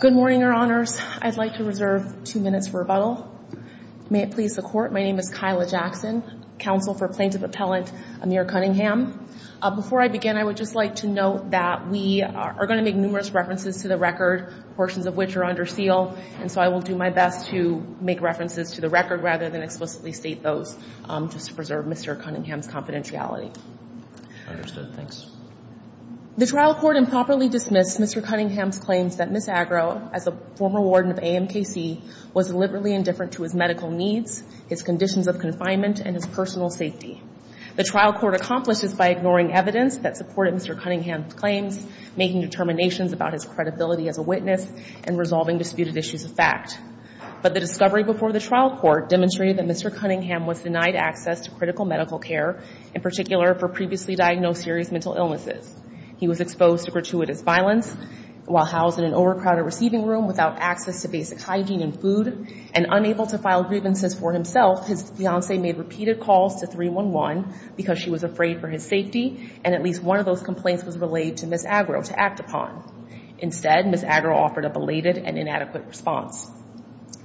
Good morning, Your Honors. I'd like to reserve two minutes for rebuttal. May it please the Court, my name is Kyla Jackson, counsel for Plaintiff Appellant Amir Cunningham. Before I begin, I would just like to note that we are going to make numerous references to the record, portions of which are under seal, and so I will do my best to make references to the record rather than explicitly state those, just to preserve Mr. Cunningham's confidentiality. Understood. Thanks. The trial court improperly dismissed Mr. Cunningham's claims that Ms. Argo, as a former warden of AMKC, was deliberately indifferent to his medical needs, his conditions of confinement, and his personal safety. The trial court accomplished this by ignoring evidence that supported Mr. Cunningham's claims, making determinations about his credibility as a witness, and resolving disputed issues of fact. But the discovery before the trial court demonstrated that Mr. Cunningham was denied access to critical medical care, in particular for previously diagnosed serious mental illnesses. He was exposed to gratuitous violence, while housed in an overcrowded receiving room without access to basic hygiene and food, and unable to file grievances for himself, his fiancée made repeated calls to 311 because she was afraid for his safety, and at least one of those complaints was relayed to Ms. Argo to act upon. Instead, Ms. Argo offered a belated and inadequate response,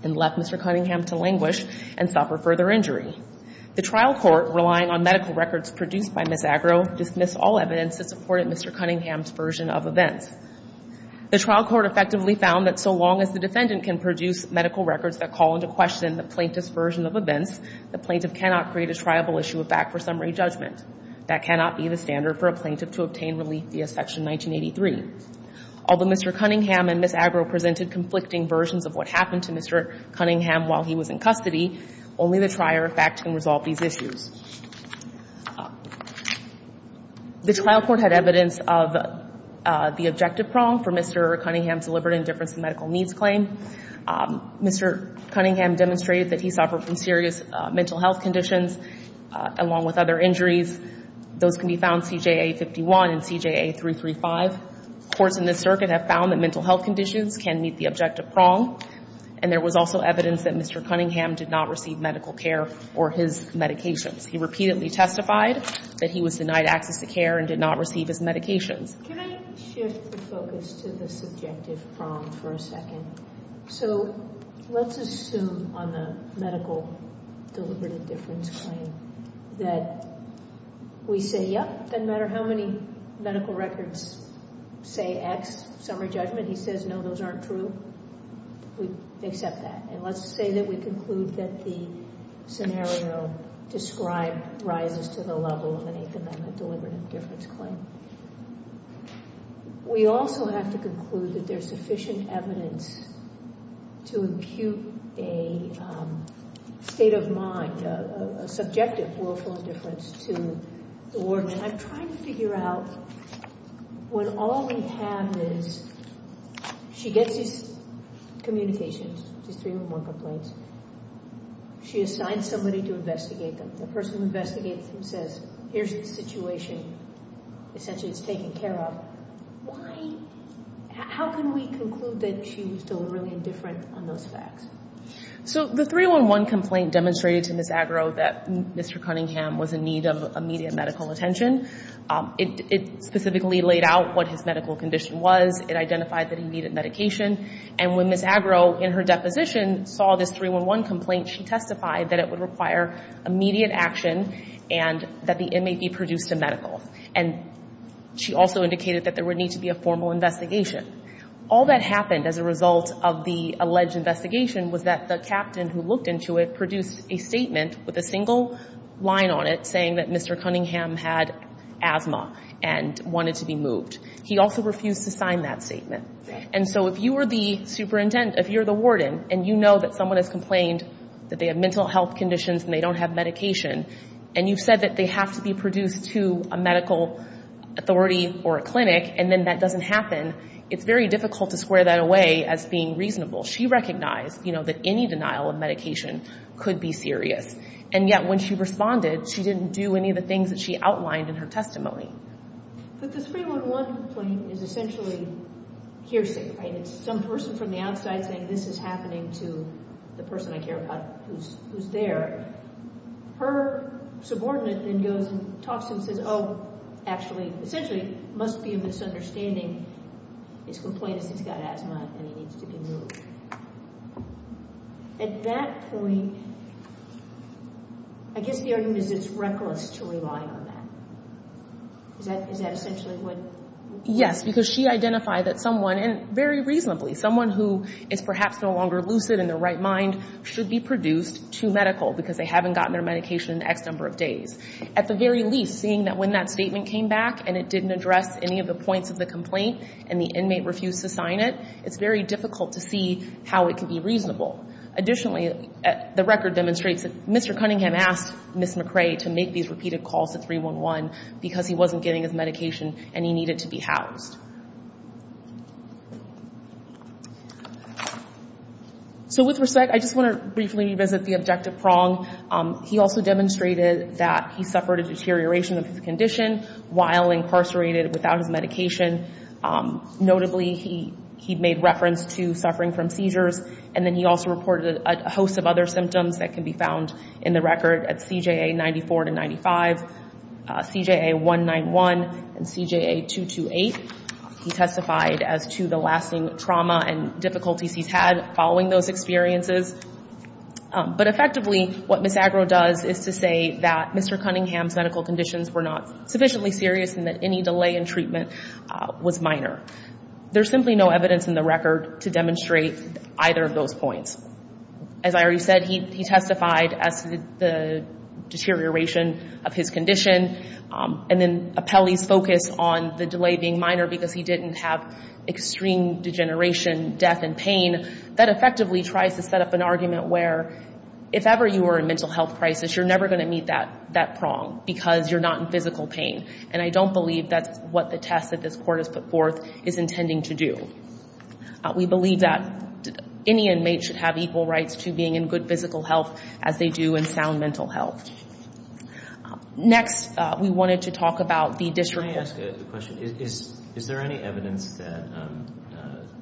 and left Mr. Cunningham to languish and suffer further injury. The trial court, relying on medical records produced by Ms. Argo, dismissed all evidence that supported Mr. Cunningham's version of events. The trial court effectively found that so long as the defendant can produce medical records that call into question the plaintiff's version of events, the plaintiff cannot create a triable issue of fact for summary judgment. That cannot be the standard for a plaintiff to obtain relief via Section 1983. Although Mr. Cunningham and Ms. Argo presented conflicting versions of what happened to Mr. Cunningham while he was in custody, only the trier of fact can resolve these issues. The trial court had evidence of the objective prong for Mr. Cunningham's deliberate indifference to medical needs claim. Mr. Cunningham demonstrated that he suffered from serious mental health conditions, along with other injuries. Those can be found, CJA 51 and CJA 335. Courts in this circuit have found that Mr. Cunningham did not receive medical care or his medications. He repeatedly testified that he was denied access to care and did not receive his medications. Can I shift the focus to the subjective prong for a second? So let's assume on the medical deliberate indifference claim that we say, yep, doesn't matter how many medical records say X summary judgment. He says, no, those aren't true. We accept that. And let's say that we conclude that the scenario described rises to the level of an eighth amendment deliberate indifference claim. We also have to conclude that there's sufficient evidence to impute a state of mind, a subjective willful indifference to the warden. And I'm trying to figure out what all we have is she gets his communications, his 311 complaints. She assigns somebody to investigate them. The person who investigates him says, here's the situation. Essentially, it's taken care of. Why, how can we conclude that she was deliberately indifferent on those facts? So the 311 complaint demonstrated to Ms. Agro that Mr. Cunningham was in need of immediate medical attention. It specifically laid out what his medical condition was. It identified that he needed medication. And when Ms. Agro, in her deposition, saw this 311 complaint, she testified that it would require immediate action and that the inmate be produced to medical. And she also indicated that there would need to be a formal investigation. All that happened as a result of the alleged investigation was that the captain who looked into it produced a statement with a single line on it saying that Mr. Cunningham had to sign that statement. And so if you were the superintendent, if you're the warden, and you know that someone has complained that they have mental health conditions and they don't have medication, and you've said that they have to be produced to a medical authority or a clinic, and then that doesn't happen, it's very difficult to square that away as being reasonable. She recognized, you know, that any denial of medication could be serious. And yet, when she responded, she didn't do any of the things that she outlined in her testimony. But the 311 complaint is essentially hearsay, right? It's some person from the outside saying, this is happening to the person I care about who's there. Her subordinate then goes and talks to him and says, oh, actually, essentially must be a misunderstanding. His complaint is he's got asthma and he needs to be moved. At that point, I guess the argument is it's reckless to rely on that. Is that essentially what? Yes, because she identified that someone, and very reasonably, someone who is perhaps no longer lucid in their right mind should be produced to medical because they haven't gotten their medication in X number of days. At the very least, seeing that when that statement came back and it didn't address any of the points of the complaint and the inmate refused to sign it, it's very difficult to see how it can be reasonable. Additionally, the record demonstrates that Mr. Cunningham asked Ms. McRae to make these repeated calls to 311 because he wasn't getting his medication and he needed to be housed. So with respect, I just want to briefly revisit the objective prong. He also demonstrated that he suffered a deterioration of his condition while incarcerated without his medication. Notably, he made reference to suffering from seizures, and then he also reported a host of other symptoms that can be found in the record at CJA 94 to 95, CJA 191, and CJA 228. He testified as to the lasting trauma and difficulties he's had following those experiences. But effectively, what Ms. Agro does is to say that Mr. Cunningham's medical conditions were not sufficiently serious and that any delay in treatment was minor. There's simply no evidence in the record to demonstrate either of those points. As I already said, he testified as to the deterioration of his condition, and then appellees focused on the delay being minor because he didn't have extreme degeneration, death, and pain. That effectively tries to set up an argument where if ever you were in a mental health crisis, you're never going to meet that prong because you're not in physical pain. And I don't believe that's what the test that this court has put forth is intending to do. We believe that any inmate should have equal rights to being in good physical health as they do in sound mental health. Next, we wanted to talk about the district court. Can I ask a question? Is there any evidence that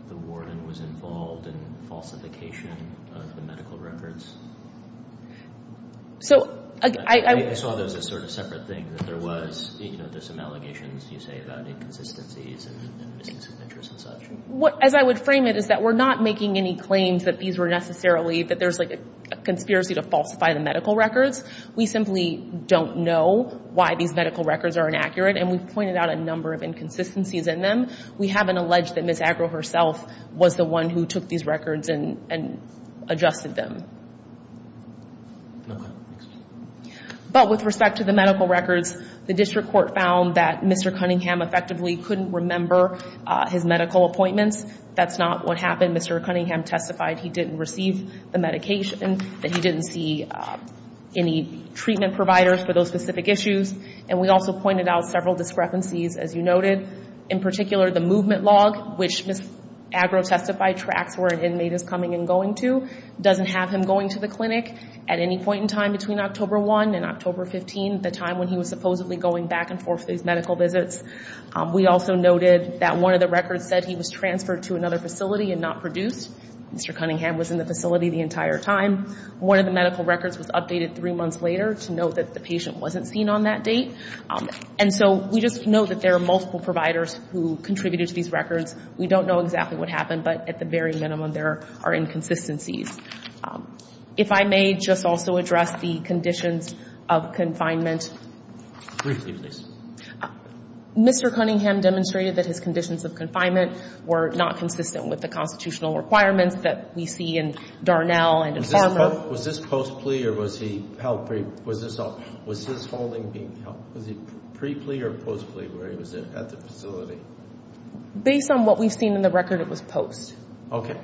the warden was involved in falsification of the medical records? I saw those as sort of separate things. There was some allegations, you say, about inconsistencies and misdemeanors and such. As I would frame it is that we're not making any claims that these were necessarily that there's a conspiracy to falsify the medical records. We simply don't know why these medical records are inaccurate, and we've pointed out a number of inconsistencies in them. We haven't alleged that Ms. Agro herself was the one who took these records and adjusted them. But with respect to the medical records, the district court found that Mr. Cunningham effectively couldn't remember his medical appointments. That's not what happened. Mr. Cunningham testified he didn't receive the medication, that he didn't see any treatment providers for those specific issues, and we also pointed out several discrepancies, as you noted. In particular, the movement log, which Ms. Agro testified tracks where an inmate is coming and going to, doesn't have him going to the clinic at any point in time between October 1 and October 15, the time when he was supposedly going back and forth for these medical visits. We also noted that one of the records said he was transferred to another facility and not produced. Mr. Cunningham was in the facility the entire time. One of the medical records was updated three months later to note that the patient wasn't seen on that date. And so we just know that there are multiple providers who contributed to these records. We don't know exactly what happened, but at the very minimum, there are inconsistencies. If I may just also address the conditions of confinement. Briefly, please. Mr. Cunningham demonstrated that his conditions of confinement were not consistent with the constitutional requirements that we see in Darnell and in Farmer. Was this post plea or was he held? Was his holding being held? Was he pre plea or post plea where he was at the facility? Based on what we've seen in the record, it was post. Okay.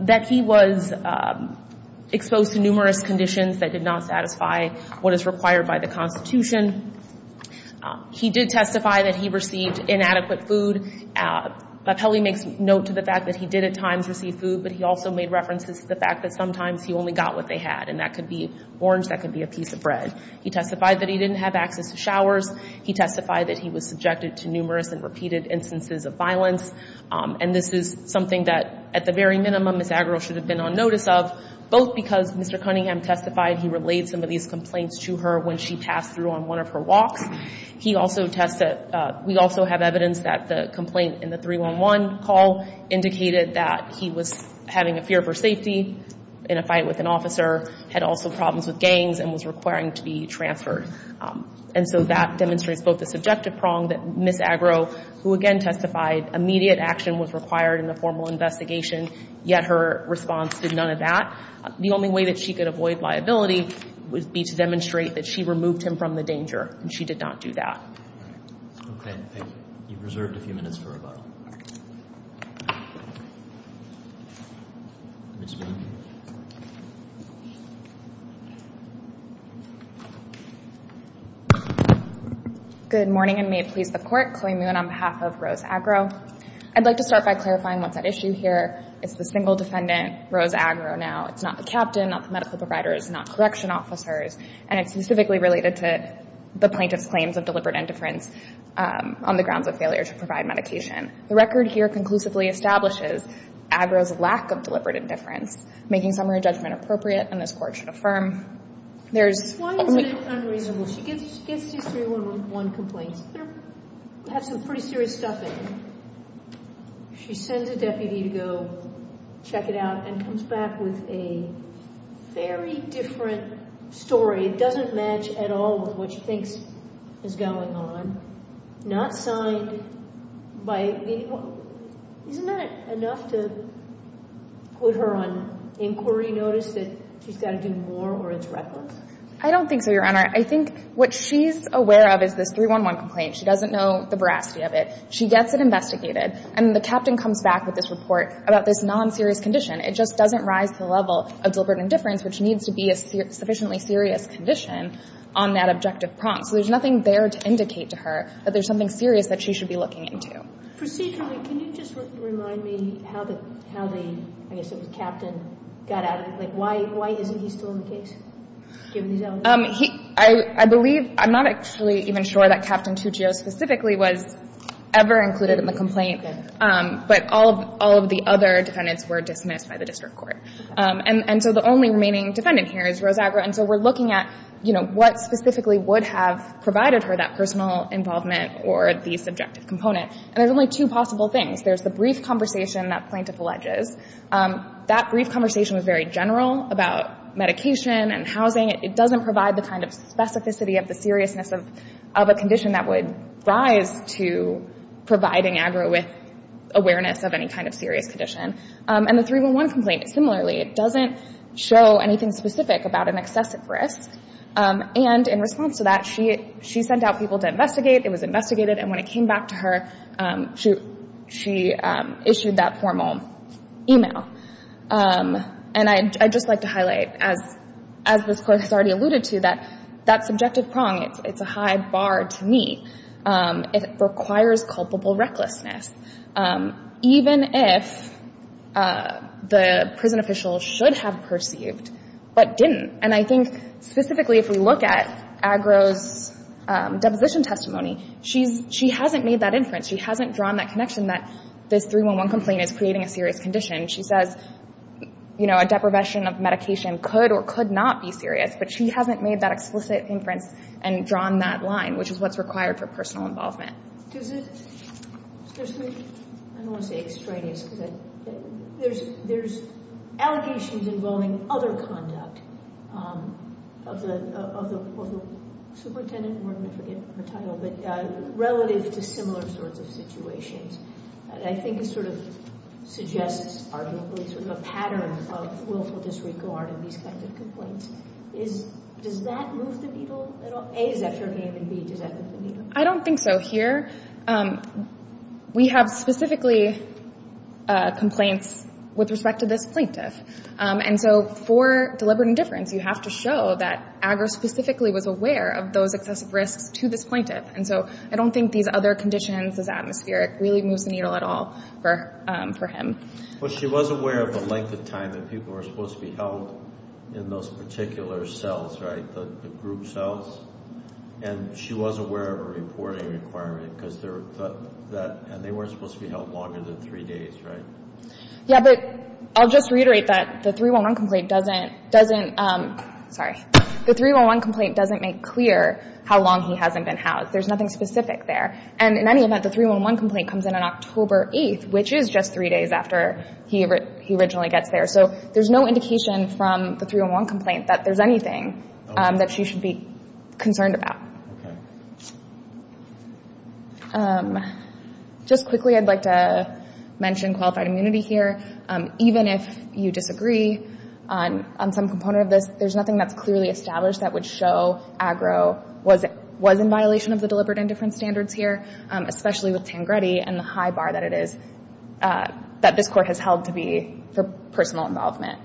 That he was exposed to numerous conditions that did not satisfy what is required by the Constitution. He did testify that he received inadequate food. Papelli makes note to the fact that he did at times receive food, but he also made references to the fact that sometimes he only got what they had, and that could be orange, that could be a piece of bread. He testified that he didn't have access to showers. He testified that he was subjected to numerous and repeated instances of violence. And this is something that, at the very minimum, Ms. Agarwal should have been on notice of, both because Mr. Cunningham testified he relayed some of these complaints to her when she passed through on one of her walks. We also have evidence that the complaint in the 311 call indicated that he was having a fear for safety in a fight with an officer, had also problems with gangs, and was requiring to be transferred. And so that demonstrates both the subjective prong that Ms. Agarwal, who again testified, immediate action was required in the formal investigation, yet her response did none of that. The only way that she could avoid liability would be to demonstrate that she removed him from the danger, and she did not do that. Okay. Thank you. You've reserved a few minutes for rebuttal. Good morning, and may it please the Court. Chloe Moon on behalf of Rose Agarwal. I'd like to start by clarifying what's at issue here. It's the single defendant, Rose Agarwal, now. It's not the captain, not the medical providers, not correction officers, and it's specifically related to the plaintiff's claims of deliberate indifference on the grounds of failure to provide medication. The record here conclusively establishes Agarwal's lack of deliberate indifference, making summary judgment appropriate, and this Court should affirm. Why is it unreasonable? She gets these 311 complaints. They have some pretty serious stuff in them. She sends a deputy to go check it out and comes back with a very different story. It doesn't match at all with what she thinks is going on. Not signed by anyone. Isn't that enough to put her on inquiry notice that she's got to do more or it's reckless? I don't think so, Your Honor. I think what she's aware of is this 311 complaint. She doesn't know the veracity of it. She gets it investigated, and the captain comes back with this report about this non-serious condition. It just doesn't rise to the level of deliberate indifference, which needs to be a sufficiently serious condition on that objective prompt. So there's nothing there to indicate to her that there's something serious that she should be looking into. Procedurally, can you just remind me how the, I guess it was captain, got out of it? Like, why isn't he still in the case, given these elements? I believe, I'm not actually even sure that Captain Tuccio specifically was ever included in the complaint, but all of the other defendants were dismissed by the district court. And so the only remaining defendant here is Rosagra. And so we're looking at, you know, what specifically would have provided her that personal involvement or the subjective component. And there's only two possible things. There's the brief conversation that plaintiff alleges. That brief conversation was very general about medication and housing. It doesn't provide the kind of specificity of the seriousness of a condition that would rise to providing AGRA with awareness of any kind of serious condition. And the 311 complaint, similarly, doesn't show anything specific about an excessive risk. And in response to that, she sent out people to investigate. It was investigated. And when it came back to her, she issued that formal email. And I'd just like to highlight, as this Court has already alluded to, that that subjective prong, it's a high bar to meet. It requires culpable recklessness, even if the prison official should have perceived but didn't. And I think specifically if we look at AGRA's deposition testimony, she hasn't made that inference. She hasn't drawn that connection that this 311 complaint is creating a serious condition. She says, you know, a deprivation of medication could or could not be serious, but she hasn't made that explicit inference and drawn that line, which is what's required for personal involvement. I don't want to say extraneous because there's allegations involving other conduct of the superintendent, and we're going to forget her title, but relative to similar sorts of situations. And I think it sort of suggests arguably sort of a pattern of willful disregard in these kinds of complaints. Does that move the needle at all? A, is that fair game? And B, does that move the needle? I don't think so. Here we have specifically complaints with respect to this plaintiff. And so for deliberate indifference, you have to show that AGRA specifically was aware of those excessive risks to this plaintiff. And so I don't think these other conditions, this atmospheric, really moves the needle at all for him. Well, she was aware of the length of time that people were supposed to be held in those particular cells, right, the group cells, and she was aware of a reporting requirement, because they were supposed to be held longer than three days, right? Yeah, but I'll just reiterate that the 311 complaint doesn't make clear how long he hasn't been housed. There's nothing specific there. And in any event, the 311 complaint comes in on October 8th, which is just three days after he originally gets there. So there's no indication from the 311 complaint that there's anything that she should be concerned about. Okay. Just quickly, I'd like to mention qualified immunity here. Even if you disagree on some component of this, there's nothing that's clearly established that would show AGRA was in violation of the deliberate indifference standards here, especially with Tangretti and the high bar that it is, that this Court has held to be for personal involvement.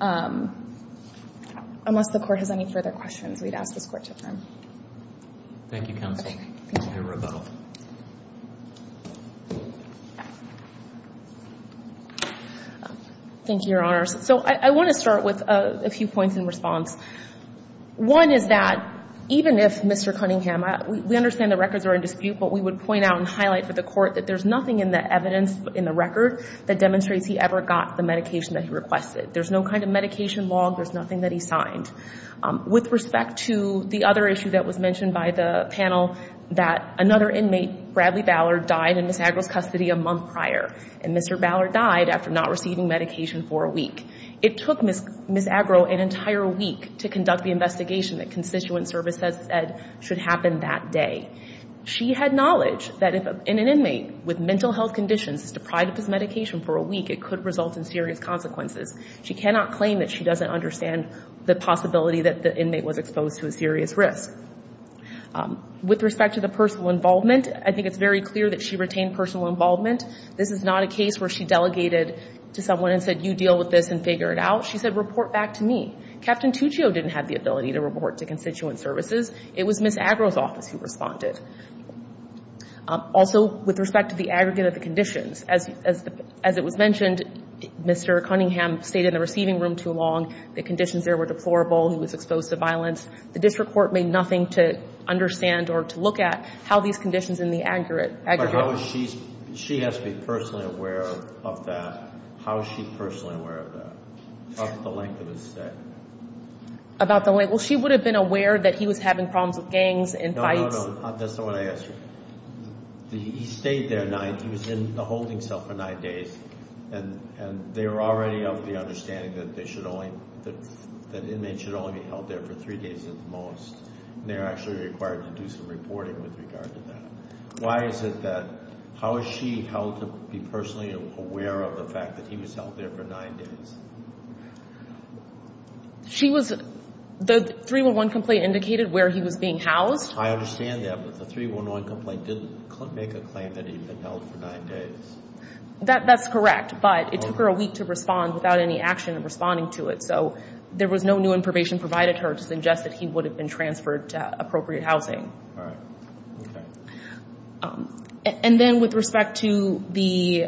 Unless the Court has any further questions, we'd ask this Court to adjourn. Thank you, counsel. Thank you. Thank you, Your Honor. So I want to start with a few points in response. One is that even if Mr. Cunningham – we understand the records are in dispute, but we would point out and highlight for the Court that there's nothing in the evidence in the record that demonstrates he ever got the medication that he requested. There's no kind of medication log. There's nothing that he signed. With respect to the other issue that was mentioned by the panel, that another inmate, Bradley Ballard, died in Ms. Agro's custody a month prior, and Mr. Ballard died after not receiving medication for a week. It took Ms. Agro an entire week to conduct the investigation that constituent service has said should happen that day. She had knowledge that if an inmate with mental health conditions is deprived of his medication for a week, it could result in serious consequences. She cannot claim that she doesn't understand the possibility that the inmate was exposed to a serious risk. With respect to the personal involvement, I think it's very clear that she retained personal involvement. This is not a case where she delegated to someone and said, you deal with this and figure it out. She said, report back to me. Captain Tuccio didn't have the ability to report to constituent services. It was Ms. Agro's office who responded. Also, with respect to the aggregate of the conditions, as it was mentioned, Mr. Cunningham stayed in the receiving room too long. The conditions there were deplorable. He was exposed to violence. The district court made nothing to understand or to look at how these conditions in the aggregate – But how is she – she has to be personally aware of that. How is she personally aware of that? Talk about the length of his stay. About the length. Well, she would have been aware that he was having problems with gangs and fights. No, no, no. That's not what I asked you. He stayed there nine – he was in the holding cell for nine days, and they were already of the understanding that they should only – that inmates should only be held there for three days at the most, and they were actually required to do some reporting with regard to that. Why is it that – how is she held to be personally aware of the fact that he was held there for nine days? She was – the 311 complaint indicated where he was being housed. I understand that, but the 311 complaint didn't make a claim that he'd been held for nine days. That's correct, but it took her a week to respond without any action in responding to it, so there was no new information provided to her to suggest that he would have been transferred to appropriate housing. All right. Okay. And then with respect to the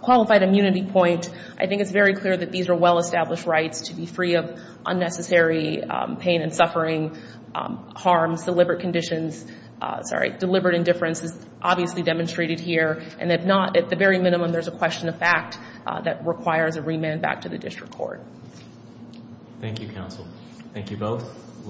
qualified immunity point, I think it's very clear that these are well-established rights to be free of unnecessary pain and suffering, harm, deliberate conditions – sorry, deliberate indifference is obviously demonstrated here, and if not, at the very minimum, there's a question of fact that requires a remand back to the district court. Thank you, counsel. Thank you both.